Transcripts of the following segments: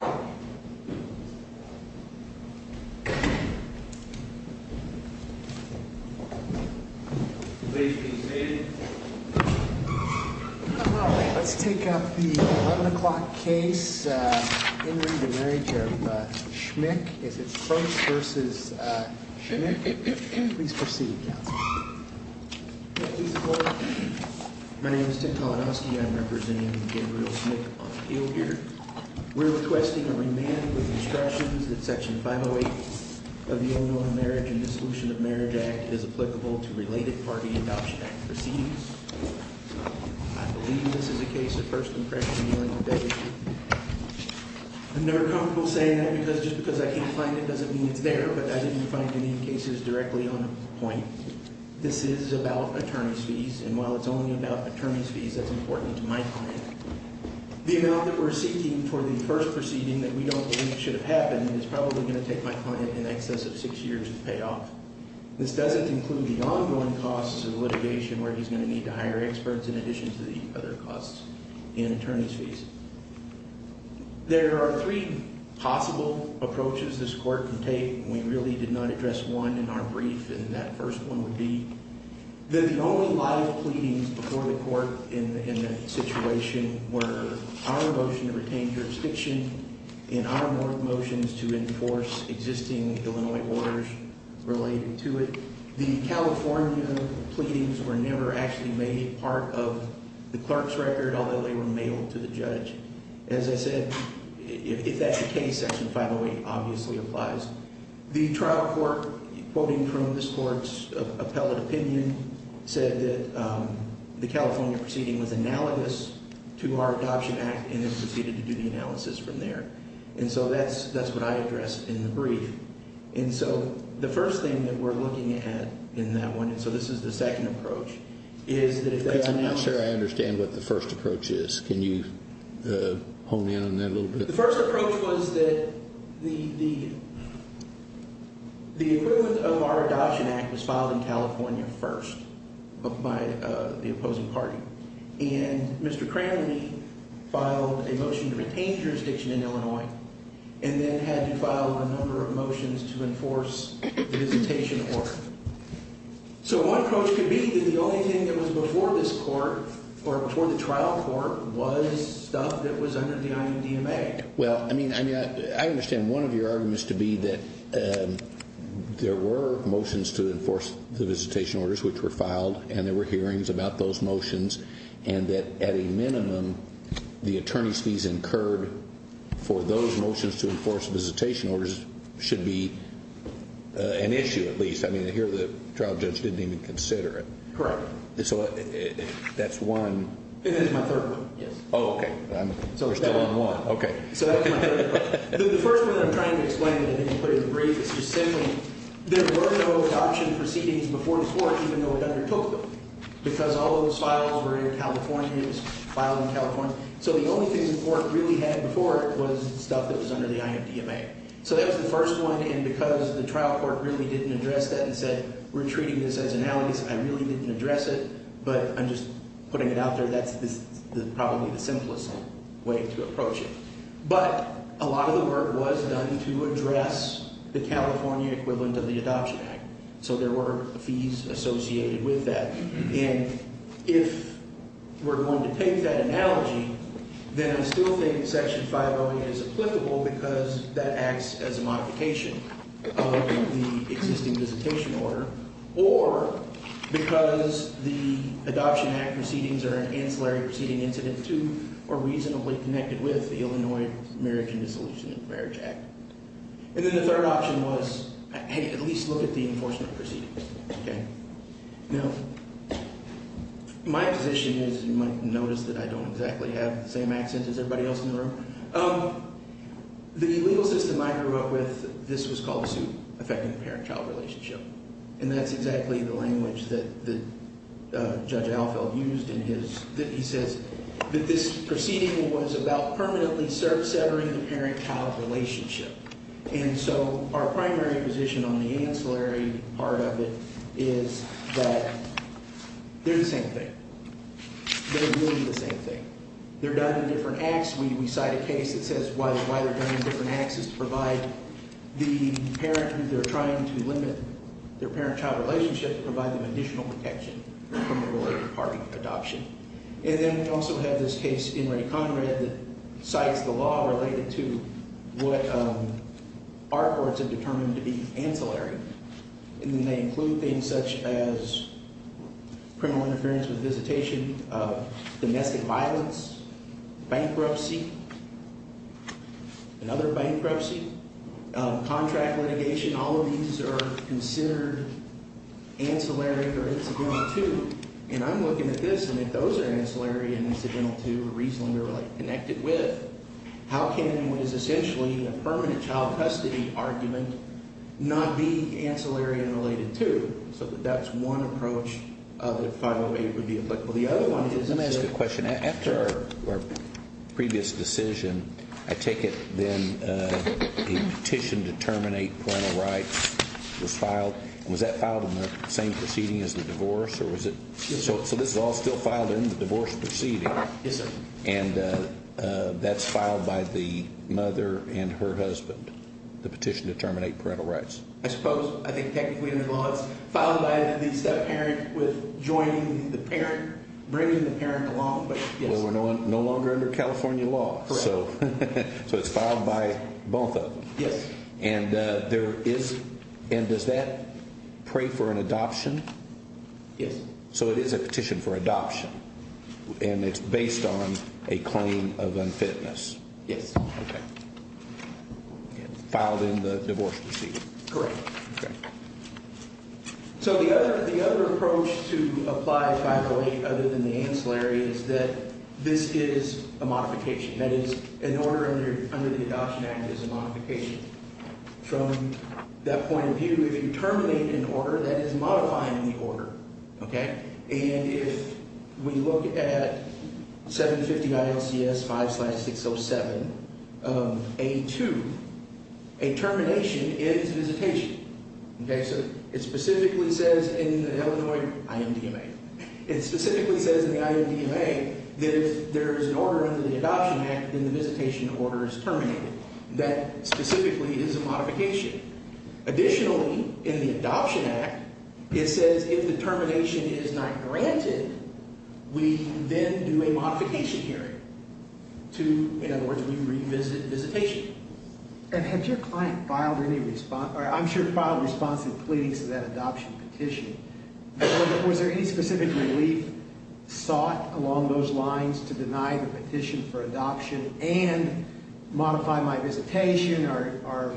My name is Tim Kalinowski. I'm representing Gabriel Smick on the field here. We're requesting a remand with instructions that Section 508 of the Only One Marriage and Dissolution of Marriage Act is applicable to related party adoption act proceeds. I believe this is a case of first impression healing today. I'm never comfortable saying that because just because I can't find it doesn't mean it's there, but I didn't find any cases directly on a point. This is about attorney's fees, and while it's only about attorney's fees, that's important to my client. The amount that we're seeking for the first proceeding that we don't think should have happened is probably going to take my client in excess of six years to pay off. This doesn't include the ongoing costs of litigation where he's going to need to hire experts in addition to the other costs and attorney's fees. There are three possible approaches this court can take, and we really did not address one in our brief, and that first one would be that the only live pleadings before the court in that situation were our motion to retain jurisdiction and our motions to enforce existing Illinois orders related to it. The California pleadings were never actually made part of the clerk's record, although they were mailed to the judge. As I said, if that's the case, Section 508 obviously applies. The trial court, quoting from this court's appellate opinion, said that the California proceeding was analogous to our Adoption Act and then proceeded to do the analysis from there. And so that's what I addressed in the brief. And so the first thing that we're looking at in that one, and so this is the second approach, is that if that's analogous- I'm not sure I understand what the first approach is. Can you hone in on that a little bit? The first approach was that the equivalent of our Adoption Act was filed in California first by the opposing party. And Mr. Cranley filed a motion to retain jurisdiction in Illinois and then had to file a number of motions to enforce the visitation order. So one approach could be that the only thing that was before this court or before the trial court was stuff that was under the IUDMA. Well, I mean, I understand one of your arguments to be that there were motions to enforce the visitation orders which were filed and there were hearings about those motions and that at a minimum, the attorney's fees incurred for those motions to enforce visitation orders should be an issue at least. I mean, here the trial judge didn't even consider it. Correct. So that's one- And that's my third one, yes. Oh, okay. We're still on one. Okay. So that's my third one. The first one that I'm trying to explain that I didn't put in the brief is just simply there were no adoption proceedings before this court even though it undertook them because all of those files were in California. It was filed in California. So the only thing the court really had before it was stuff that was under the IUDMA. So that was the first one. And because the trial court really didn't address that and said we're treating this as analogous, I really didn't address it, but I'm just putting it out there. That's probably the simplest way to approach it. But a lot of the work was done to address the California equivalent of the Adoption Act. So there were fees associated with that. And if we're going to take that analogy, then I still think Section 508 is applicable because that acts as a modification of the existing visitation order or because the Adoption Act proceedings are an ancillary proceeding incident to or reasonably connected with the Illinois Marriage and Dissolution of Marriage Act. And then the third option was, hey, at least look at the enforcement proceedings, okay? Now, my position is, you might notice that I don't exactly have the same accent as everybody else in the room. The legal system I grew up with, this was called a suit affecting the parent-child relationship. And that's exactly the language that Judge Alfeld used in his, that he says that this proceeding was about permanently severing the parent-child relationship. And so our primary position on the ancillary part of it is that they're the same thing. They're really the same thing. They're done in different acts. We cite a case that says why they're done in different acts is to provide the parent who they're trying to limit their parent-child relationship to provide them additional protection from a related part of adoption. And then we also have this case in Ray Conrad that cites the law related to what our courts have determined to be ancillary. And then they include things such as criminal interference with visitation, domestic violence, bankruptcy, another bankruptcy, contract litigation. All of these are considered ancillary or incidental too. And I'm looking at this, and if those are ancillary and incidental too, or reasonably related, connected with, how can what is essentially a permanent child custody argument not be ancillary and related too? So that's one approach of if 508 would be applicable. The other one is a measure. Let me ask you a question. After our previous decision, I take it then a petition to terminate parental rights was So this is all still filed in the divorce proceeding? Yes, sir. And that's filed by the mother and her husband, the petition to terminate parental rights? I suppose, I think technically under the law it's filed by the step-parent with joining the parent, bringing the parent along, but yes. Well, we're no longer under California law. Correct. So it's filed by both of them? Yes. And there is, and does that pray for an adoption? Yes. So it is a petition for adoption, and it's based on a claim of unfitness? Yes. Okay. Filed in the divorce proceeding? Correct. Okay. So the other approach to apply 508 other than the ancillary is that this is a modification. That is, an order under the Adoption Act is a modification. From that point of view, if you terminate an order, that is modifying the order. Okay? And if we look at 759CS5-607 of A2, a termination is visitation. Okay? So it specifically says in the Illinois IMDMA. It specifically says in the IMDMA that if there is an order under the Adoption Act, then the visitation order is terminated. That specifically is a modification. Additionally, in the Adoption Act, it says if the termination is not granted, we then do a modification hearing to, in other words, we revisit visitation. And had your client filed any response, or I'm sure filed responsive pleadings to that adoption petition, was there any specific relief sought along those lines to deny the petition for adoption and modify my visitation, or?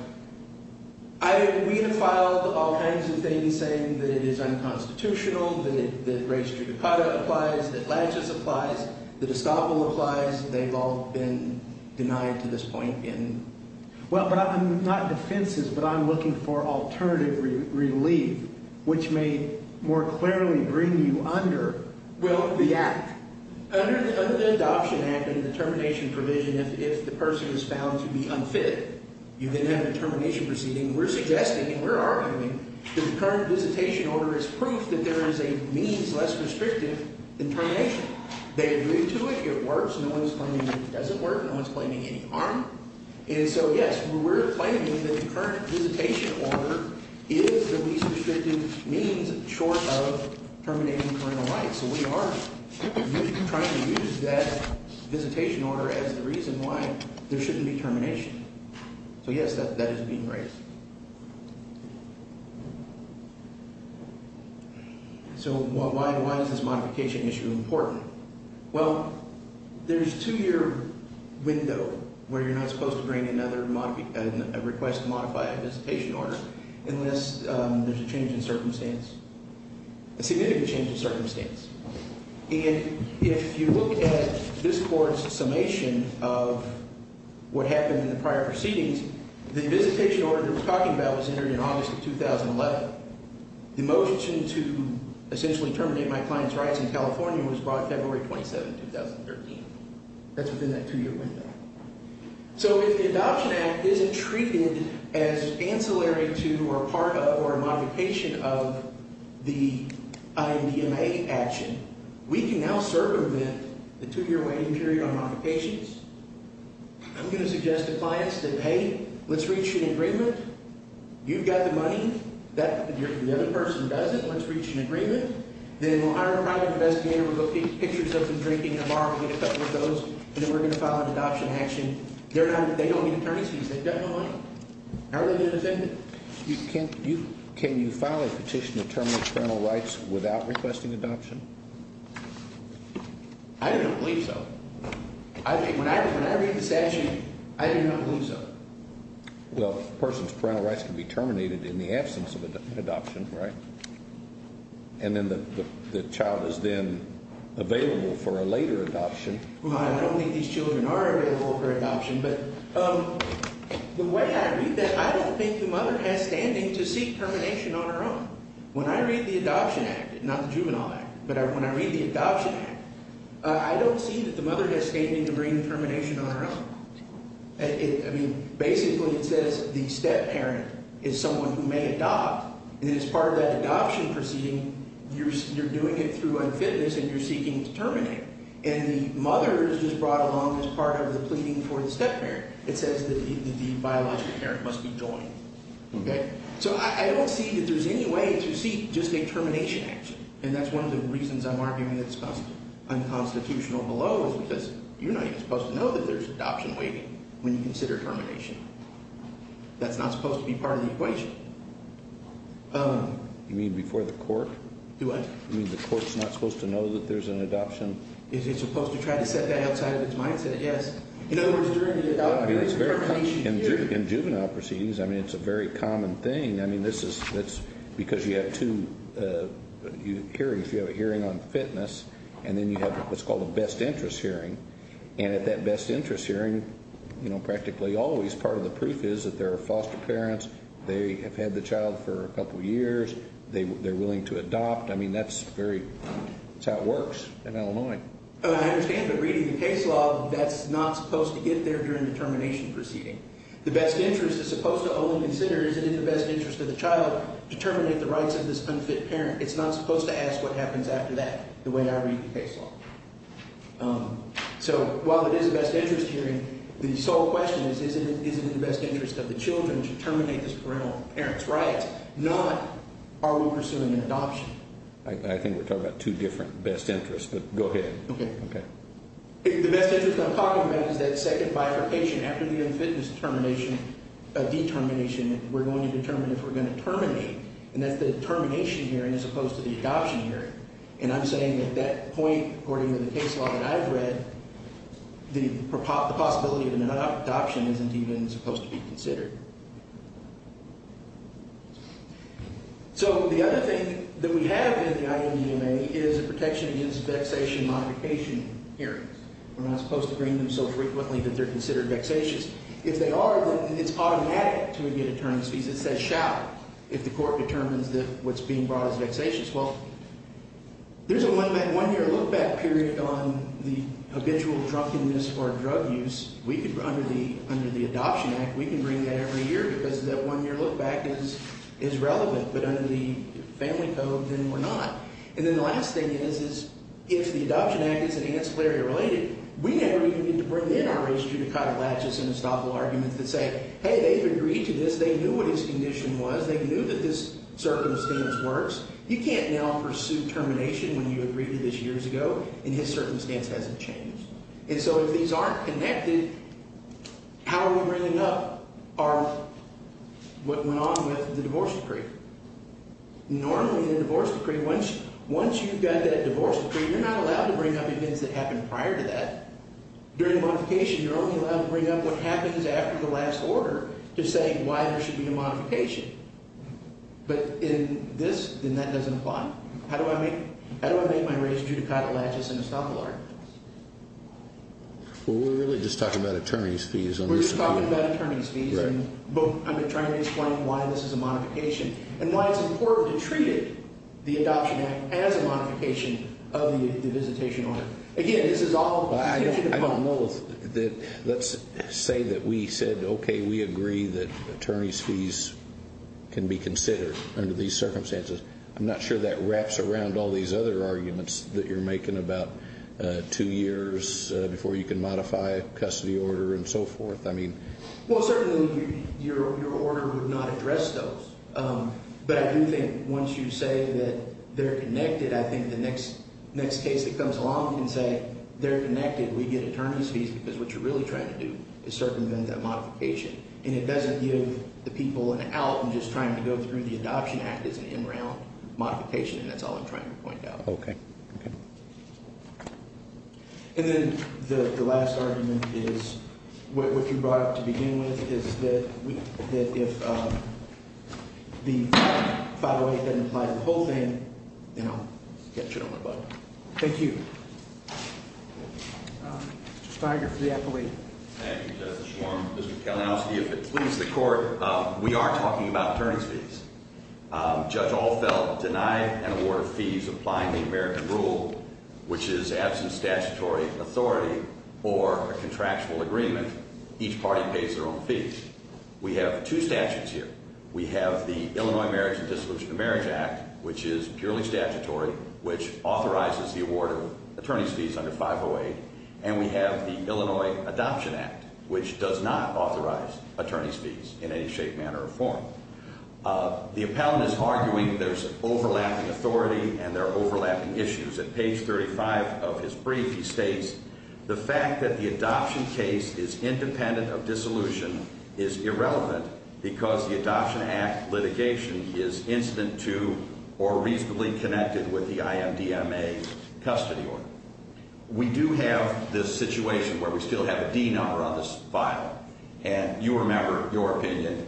We have filed all kinds of things saying that it is unconstitutional, that race judicata applies, that latches applies, that estoppel applies. They've all been denied to this point in. Well, but I'm not in defenses, but I'm looking for alternative relief, which may more clearly bring you under the Act. Under the Adoption Act and the termination provision, if the person is found to be unfit, you then have a termination proceeding. We're suggesting and we're arguing that the current visitation order is proof that there is a means less restrictive than termination. They agree to it. It works. No one is claiming it doesn't work. No one is claiming any harm. And so, yes, we're claiming that the current visitation order is the least restrictive means short of terminating parental rights. So we are trying to use that visitation order as the reason why there shouldn't be termination. So, yes, that is being raised. So why is this modification issue important? Well, there's a two-year window where you're not supposed to bring another request to modify a visitation order unless there's a change in circumstance, a significant change in circumstance. And if you look at this Court's summation of what happened in the prior proceedings, the visitation order it was talking about was entered in August of 2011. The motion to essentially terminate my client's rights in California was brought February 27, 2013. That's within that two-year window. So if the Adoption Act isn't treated as ancillary to or a part of or a modification of the INDMA action, we can now circumvent the two-year waiting period on modifications. I'm going to suggest to clients that, hey, let's reach an agreement. You've got the money. The other person doesn't. Let's reach an agreement. Then we'll hire a private investigator. We'll go get pictures of them drinking in a bar. We'll get a couple of those. And then we're going to file an adoption action. They don't need attorney's fees. They've got no money. How are they going to defend it? Can you file a petition to terminate parental rights without requesting adoption? I do not believe so. When I read this action, I do not believe so. Well, a person's parental rights can be terminated in the absence of an adoption, right? And then the child is then available for a later adoption. Well, I don't think these children are available for adoption. But the way I read that, I don't think the mother has standing to seek termination on her own. When I read the Adoption Act, not the Juvenile Act, but when I read the Adoption Act, I don't see that the mother has standing to bring termination on her own. I mean, basically it says the step-parent is someone who may adopt. And as part of that adoption proceeding, you're doing it through unfitness, and you're seeking to terminate. And the mother is just brought along as part of the pleading for the step-parent. It says that the biological parent must be joined. Okay? So I don't see that there's any way to seek just a termination action. And that's one of the reasons I'm arguing that it's unconstitutional below, because you're not even supposed to know that there's adoption waiting when you consider termination. That's not supposed to be part of the equation. You mean before the court? Do what? You mean the court's not supposed to know that there's an adoption? It's supposed to try to set that outside of its mindset, yes. In other words, during the termination period. In juvenile proceedings, I mean, it's a very common thing. I mean, this is because you have two hearings. You have a hearing on fitness, and then you have what's called a best interest hearing. And at that best interest hearing, you know, practically always part of the proof is that there are foster parents. They have had the child for a couple years. They're willing to adopt. I mean, that's how it works in Illinois. I understand, but reading the case law, that's not supposed to get there during the termination proceeding. The best interest is supposed to only consider is it in the best interest of the child to terminate the rights of this unfit parent. It's not supposed to ask what happens after that, the way I read the case law. So while it is a best interest hearing, the sole question is, is it in the best interest of the children to terminate this parental parent's rights, not are we pursuing an adoption? I think we're talking about two different best interests, but go ahead. Okay. Okay. The best interest I'm talking about is that second bifurcation. After the unfitness determination, determination, we're going to determine if we're going to terminate. And that's the termination hearing as opposed to the adoption hearing. And I'm saying at that point, according to the case law that I've read, the possibility of an adoption isn't even supposed to be considered. So the other thing that we have in the IMEMA is a protection against vexation modification hearings. We're not supposed to bring them so frequently that they're considered vexatious. If they are, then it's automatic to get attorney's fees. It says shall if the court determines that what's being brought is vexatious. Well, there's a one-year look-back period on the habitual drunkenness or drug use. Under the Adoption Act, we can bring that every year because that one-year look-back is relevant. But under the Family Code, then we're not. And then the last thing is, is if the Adoption Act is an ancillary or related, we never even get to bring in our race judicata latches and estoppel arguments that say, hey, they've agreed to this. They knew what his condition was. They knew that this circumstance works. You can't now pursue termination when you agreed to this years ago and his circumstance hasn't changed. And so if these aren't connected, how are we bringing up our what went on with the divorce decree? Normally in a divorce decree, once you've got that divorce decree, you're not allowed to bring up events that happened prior to that. During a modification, you're only allowed to bring up what happens after the last order to say why there should be a modification. But in this, then that doesn't apply. How do I make my race judicata latches and estoppel arguments? Well, we're really just talking about attorney's fees. We're just talking about attorney's fees. I've been trying to explain why this is a modification and why it's important to treat the Adoption Act as a modification of the visitation order. Again, this is all contingent upon those. Let's say that we said, okay, we agree that attorney's fees can be considered under these circumstances. I'm not sure that wraps around all these other arguments that you're making about two years before you can modify a custody order and so forth. Well, certainly your order would not address those. But I do think once you say that they're connected, I think the next case that comes along can say they're connected. We get attorney's fees because what you're really trying to do is circumvent that modification. And it doesn't give the people an out and just trying to go through the Adoption Act as an in-round modification, and that's all I'm trying to point out. Okay. And then the last argument is what you brought up to begin with is that if the 508 doesn't apply to the whole thing, then I'll catch it on my butt. Thank you. Mr. Steiger for the appellate. Thank you, Justice Schwarm. Mr. Kalinowski, if it pleases the court, we are talking about attorney's fees. Judge Alfeld denied an award of fees applying the American rule, which is absent statutory authority or a contractual agreement, each party pays their own fees. We have two statutes here. We have the Illinois Marriage and Dissolution of Marriage Act, which is purely statutory, which authorizes the award of attorney's fees under 508. And we have the Illinois Adoption Act, which does not authorize attorney's fees in any shape, manner, or form. The appellant is arguing there's overlapping authority and there are overlapping issues. At page 35 of his brief, he states, the fact that the adoption case is independent of dissolution is irrelevant because the Adoption Act litigation is instant to or reasonably connected with the IMDMA custody order. We do have this situation where we still have a D number on this file, and you remember your opinion.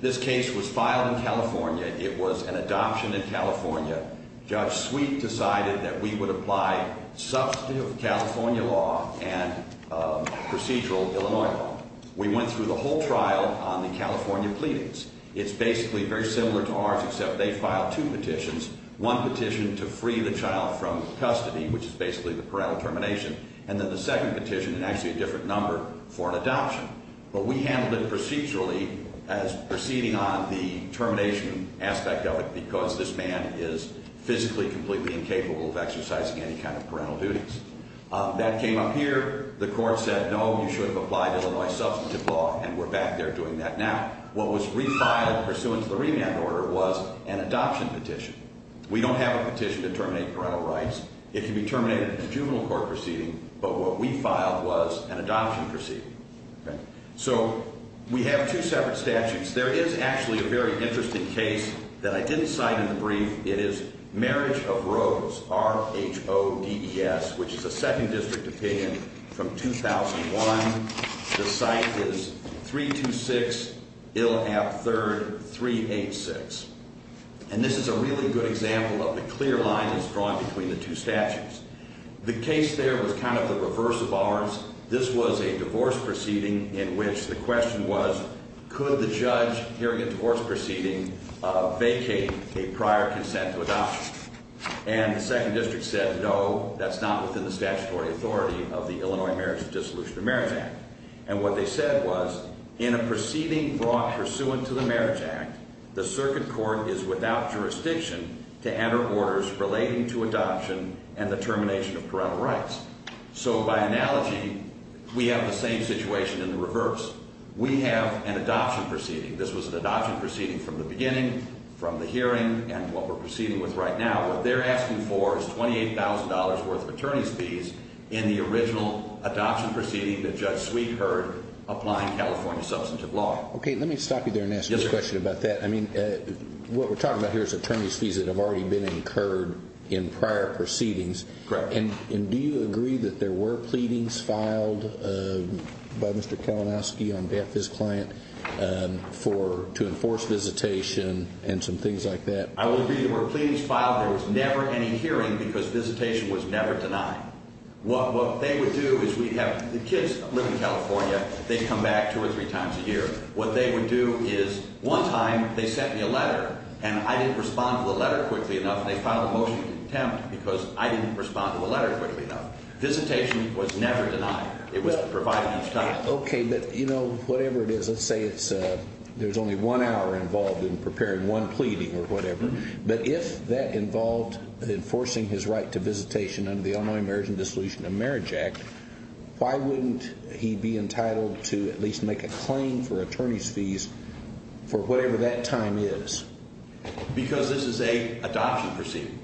This case was filed in California. It was an adoption in California. Judge Sweet decided that we would apply substantive California law and procedural Illinois law. We went through the whole trial on the California pleadings. It's basically very similar to ours except they filed two petitions, one petition to free the child from custody, which is basically the parental termination, and then the second petition, and actually a different number, for an adoption. But we handled it procedurally as proceeding on the termination aspect of it because this man is physically completely incapable of exercising any kind of parental duties. That came up here. The court said, no, you should have applied Illinois substantive law, and we're back there doing that now. What was refiled pursuant to the remand order was an adoption petition. We don't have a petition to terminate parental rights. It can be terminated in a juvenile court proceeding, but what we filed was an adoption proceeding. So we have two separate statutes. There is actually a very interesting case that I didn't cite in the brief. It is Marriage of Rhodes, R-H-O-D-E-S, which is a second district opinion from 2001. The site is 326 Ilhab 3rd, 386. And this is a really good example of the clear line that's drawn between the two statutes. The case there was kind of the reverse of ours. This was a divorce proceeding in which the question was, could the judge hearing a divorce proceeding vacate a prior consent to adoption? And the second district said, no, that's not within the statutory authority of the Illinois Marriage and Dissolution of Marriage Act. And what they said was, in a proceeding brought pursuant to the Marriage Act, the circuit court is without jurisdiction to enter orders relating to adoption and the termination of parental rights. So by analogy, we have the same situation in the reverse. We have an adoption proceeding. This was an adoption proceeding from the beginning, from the hearing, and what we're proceeding with right now. What they're asking for is $28,000 worth of attorney's fees in the original adoption proceeding that Judge Sweet heard applying California substantive law. Okay, let me stop you there and ask you a question about that. I mean, what we're talking about here is attorney's fees that have already been incurred in prior proceedings. Correct. And do you agree that there were pleadings filed by Mr. Kalinowski on behalf of his client to enforce visitation and some things like that? I would agree there were pleadings filed. There was never any hearing because visitation was never denied. What they would do is we'd have the kids live in California. They'd come back two or three times a year. What they would do is one time they sent me a letter, and I didn't respond to the letter quickly enough. They filed a motion to attempt because I didn't respond to the letter quickly enough. Visitation was never denied. It was provided each time. Okay, but, you know, whatever it is, let's say there's only one hour involved in preparing one pleading or whatever. But if that involved enforcing his right to visitation under the Illinois Marriage and Dissolution of Marriage Act, why wouldn't he be entitled to at least make a claim for attorney's fees for whatever that time is? Because this is an adoption proceeding.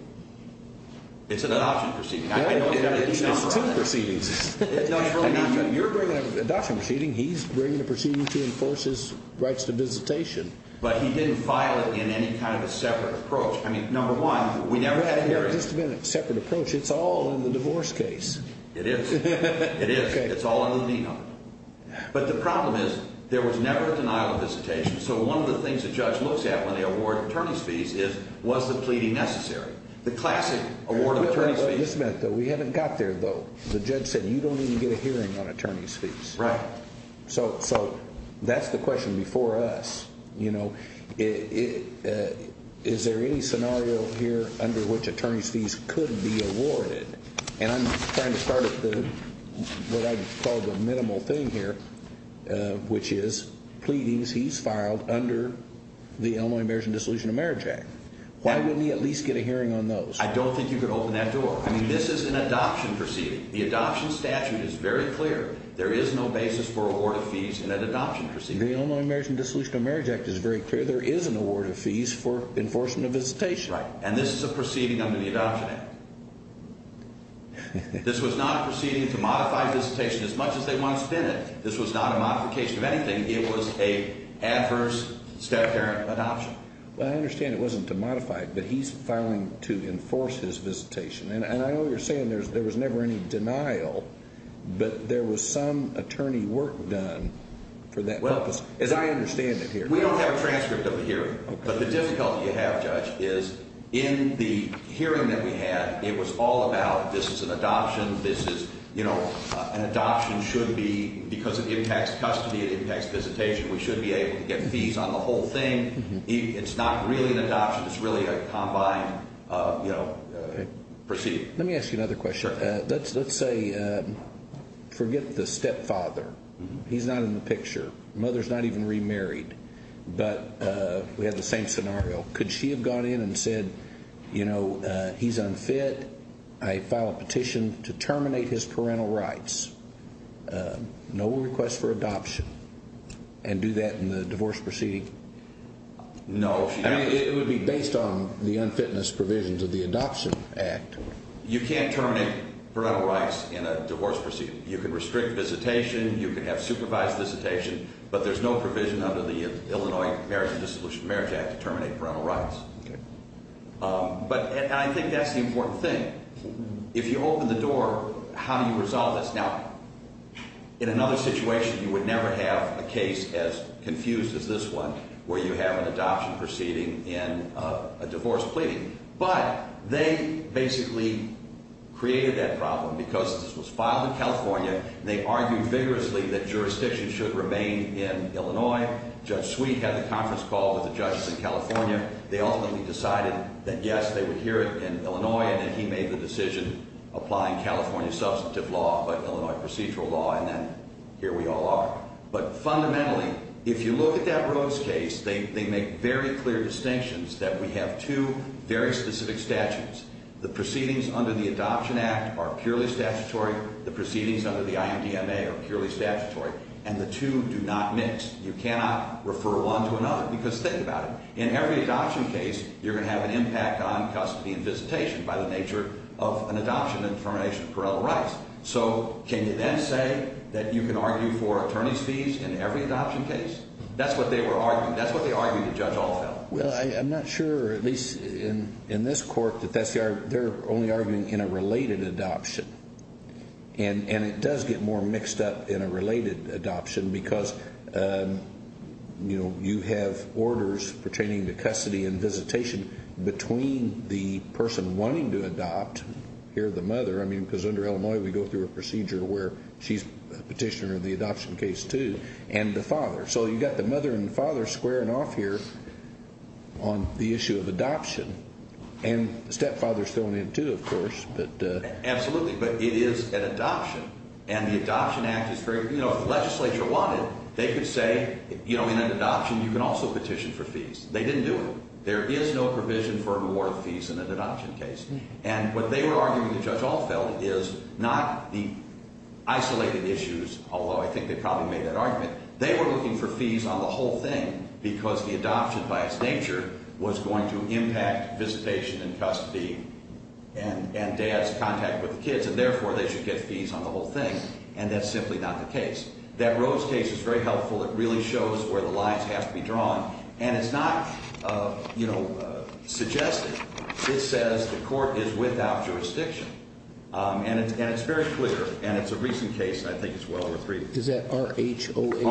It's an adoption proceeding. It's two proceedings. No, it's really not. You're doing an adoption proceeding. He's bringing a proceeding to enforce his rights to visitation. But he didn't file it in any kind of a separate approach. I mean, number one, we never had hearings. It's never been a separate approach. It's all in the divorce case. It is. It is. It's all in the vena. But the problem is there was never a denial of visitation. So one of the things the judge looks at when they award attorney's fees is was the pleading necessary? The classic award of attorney's fees. Just a minute, though. We haven't got there, though. The judge said you don't even get a hearing on attorney's fees. Right. So that's the question before us. You know, is there any scenario here under which attorney's fees could be awarded? And I'm trying to start at what I would call the minimal thing here, which is pleadings he's filed under the Illinois Marriage and Dissolution of Marriage Act. Why wouldn't he at least get a hearing on those? I don't think you could open that door. I mean, this is an adoption proceeding. The adoption statute is very clear. There is no basis for award of fees in an adoption proceeding. The Illinois Marriage and Dissolution of Marriage Act is very clear. There is an award of fees for enforcement of visitation. Right. And this is a proceeding under the Adoption Act. This was not a proceeding to modify visitation as much as they want to spin it. This was not a modification of anything. It was an adverse step-parent adoption. Well, I understand it wasn't to modify it, but he's filing to enforce his visitation. And I know you're saying there was never any denial, but there was some attorney work done for that purpose, as I understand it here. We don't have a transcript of the hearing. But the difficulty you have, Judge, is in the hearing that we had, it was all about this is an adoption. This is, you know, an adoption should be, because it impacts custody, it impacts visitation, we should be able to get fees on the whole thing. It's not really an adoption. It's really a combined, you know, proceeding. Let me ask you another question. Sure. Let's say, forget the stepfather. He's not in the picture. Mother's not even remarried. But we have the same scenario. Could she have gone in and said, you know, he's unfit, I file a petition to terminate his parental rights, no request for adoption, and do that in the divorce proceeding? No. I mean, it would be based on the unfitness provisions of the Adoption Act. You can't terminate parental rights in a divorce proceeding. You can restrict visitation. You can have supervised visitation. But there's no provision under the Illinois Marriage and Dissolution of Marriage Act to terminate parental rights. Okay. But I think that's the important thing. If you open the door, how do you resolve this? Now, in another situation, you would never have a case as confused as this one where you have an adoption proceeding in a divorce pleading. But they basically created that problem. Because this was filed in California, they argued vigorously that jurisdiction should remain in Illinois. Judge Sweet had the conference call with the judges in California. They ultimately decided that, yes, they would hear it in Illinois, and then he made the decision applying California substantive law, but Illinois procedural law, and then here we all are. But fundamentally, if you look at that Rose case, they make very clear distinctions that we have two very specific statutes. The proceedings under the Adoption Act are purely statutory. The proceedings under the INDMA are purely statutory. And the two do not mix. You cannot refer one to another. Because think about it. In every adoption case, you're going to have an impact on custody and visitation by the nature of an adoption and termination of parental rights. So can you then say that you can argue for attorney's fees in every adoption case? That's what they were arguing. That's what they argued in Judge Althoff. Well, I'm not sure, at least in this court, that they're only arguing in a related adoption. And it does get more mixed up in a related adoption because, you know, you have orders pertaining to custody and visitation between the person wanting to adopt, here the mother. I mean, because under Illinois, we go through a procedure where she's a petitioner in the adoption case, too, and the father. So you've got the mother and the father squaring off here on the issue of adoption. And the stepfather is thrown in, too, of course. Absolutely. But it is an adoption. And the Adoption Act is very – you know, if the legislature wanted, they could say, you know, in an adoption, you can also petition for fees. They didn't do it. There is no provision for reward fees in an adoption case. And what they were arguing that Judge Althoff felt is not the isolated issues, although I think they probably made that argument. They were looking for fees on the whole thing because the adoption, by its nature, was going to impact visitation and custody and dad's contact with the kids. And therefore, they should get fees on the whole thing. And that's simply not the case. That Rose case is very helpful. It really shows where the lines have to be drawn. And it's not, you know, suggested. It says the court is without jurisdiction. And it's very clear. And it's a recent case. I think it's well over three. Is that R-H-O-A-D-E-S?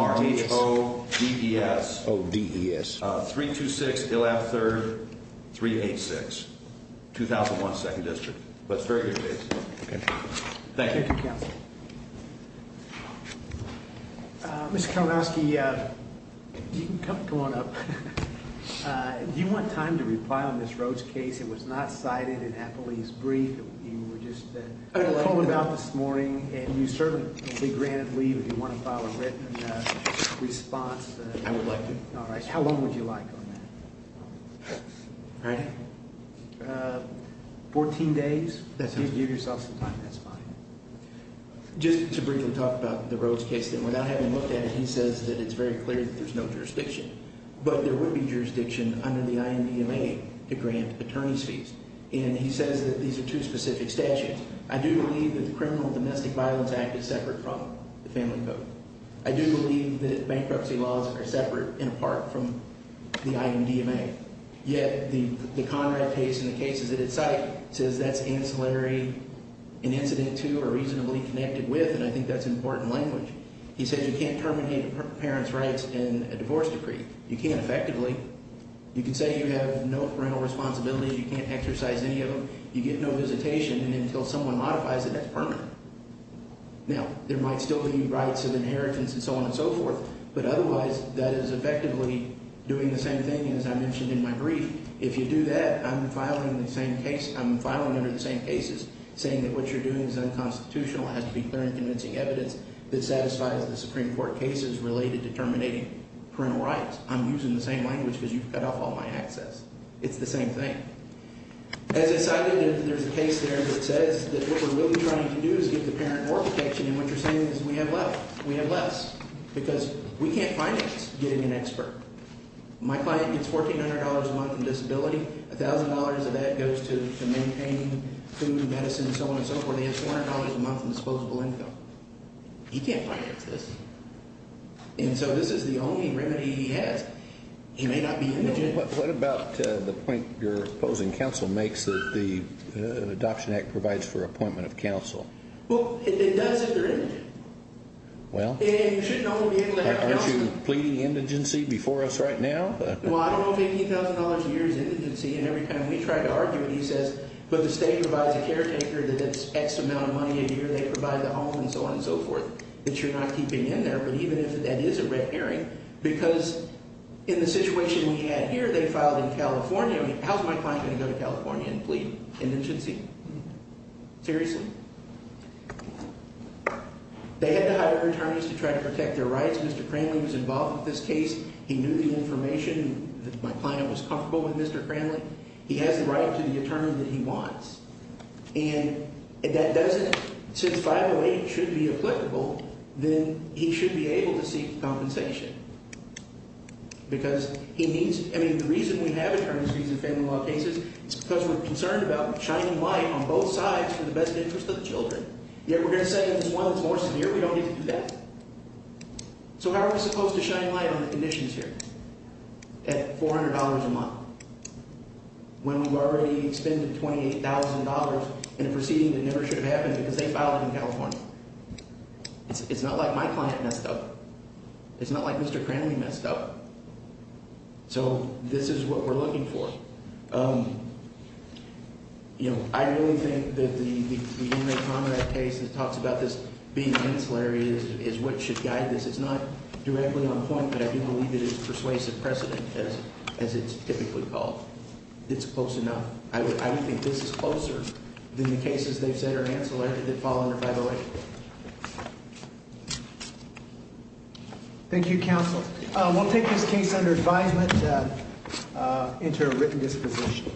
R-H-O-D-E-S. O-D-E-S. 326 Ilab 3rd, 386, 2001 2nd District. But it's a very good case. Thank you. Thank you, counsel. Mr. Kalinowski, you can come on up. Do you want time to reply on this Rose case? It was not cited in Appley's brief. You were just talking about this morning. And you certainly will be granted leave if you want to file a written response. I would like to. All right. How long would you like on that? All right. Fourteen days? That sounds good. Give yourself some time. That's fine. Just to briefly talk about the Rose case, without having looked at it, he says that it's very clear that there's no jurisdiction. But there would be jurisdiction under the IMDMA to grant attorney's fees. And he says that these are two specific statutes. I do believe that the Criminal Domestic Violence Act is separate from the Family Code. I do believe that bankruptcy laws are separate and apart from the IMDMA. Yet the Conrad case and the cases at its site says that's ancillary, an incident to or reasonably connected with, and I think that's important language. He says you can't terminate a parent's rights in a divorce decree. You can't effectively. You can say you have no parental responsibilities. You can't exercise any of them. You get no visitation. And until someone modifies it, that's permanent. Now, there might still be rights of inheritance and so on and so forth. But otherwise, that is effectively doing the same thing, as I mentioned in my brief. If you do that, I'm filing the same case. I'm filing under the same cases saying that what you're doing is unconstitutional and has to be clear and convincing evidence that satisfies the Supreme Court cases related to terminating parental rights. I'm using the same language because you've cut off all my access. It's the same thing. As I cited, there's a case there that says that what we're really trying to do is get the parent more protection. And what you're saying is we have less. We have less because we can't finance getting an expert. My client gets $1,400 a month in disability. $1,000 of that goes to maintaining food and medicine and so on and so forth. He gets $400 a month in disposable income. He can't finance this. And so this is the only remedy he has. He may not be indigent. What about the point you're proposing counsel makes that the Adoption Act provides for appointment of counsel? Well, it does if you're indigent. Well? And you should normally be able to have counsel. Are you speaking to pleading indigency before us right now? Well, I don't know if $15,000 a year is indigency. And every time we try to argue it, he says, but the state provides a caretaker that gets X amount of money a year. They provide the home and so on and so forth that you're not keeping in there. But even if that is a red herring, because in the situation we had here, they filed in California. How is my client going to go to California and plead indigency? Seriously? They had to hire attorneys to try to protect their rights. Mr. Cranley was involved with this case. He knew the information. My client was comfortable with Mr. Cranley. He has the right to the attorney that he wants. And that doesn't – since 508 should be applicable, then he should be able to seek compensation. Because he needs – I mean, the reason we have attorneys fees in family law cases is because we're concerned about shining light on both sides for the best interest of the children. Yet we're going to say if it's one that's more severe, we don't need to do that. So how are we supposed to shine light on the conditions here at $400 a month when we've already expended $28,000 in a proceeding that never should have happened because they filed it in California? It's not like my client messed up. It's not like Mr. Cranley messed up. So this is what we're looking for. I really think that the Inmate Conrad case that talks about this being ancillary is what should guide this. It's not directly on point, but I do believe it is persuasive precedent, as it's typically called. It's close enough. I don't think this is closer than the cases they've said are ancillary that fall under 508. Thank you, counsel. We'll take this case under advisement into a written disposition.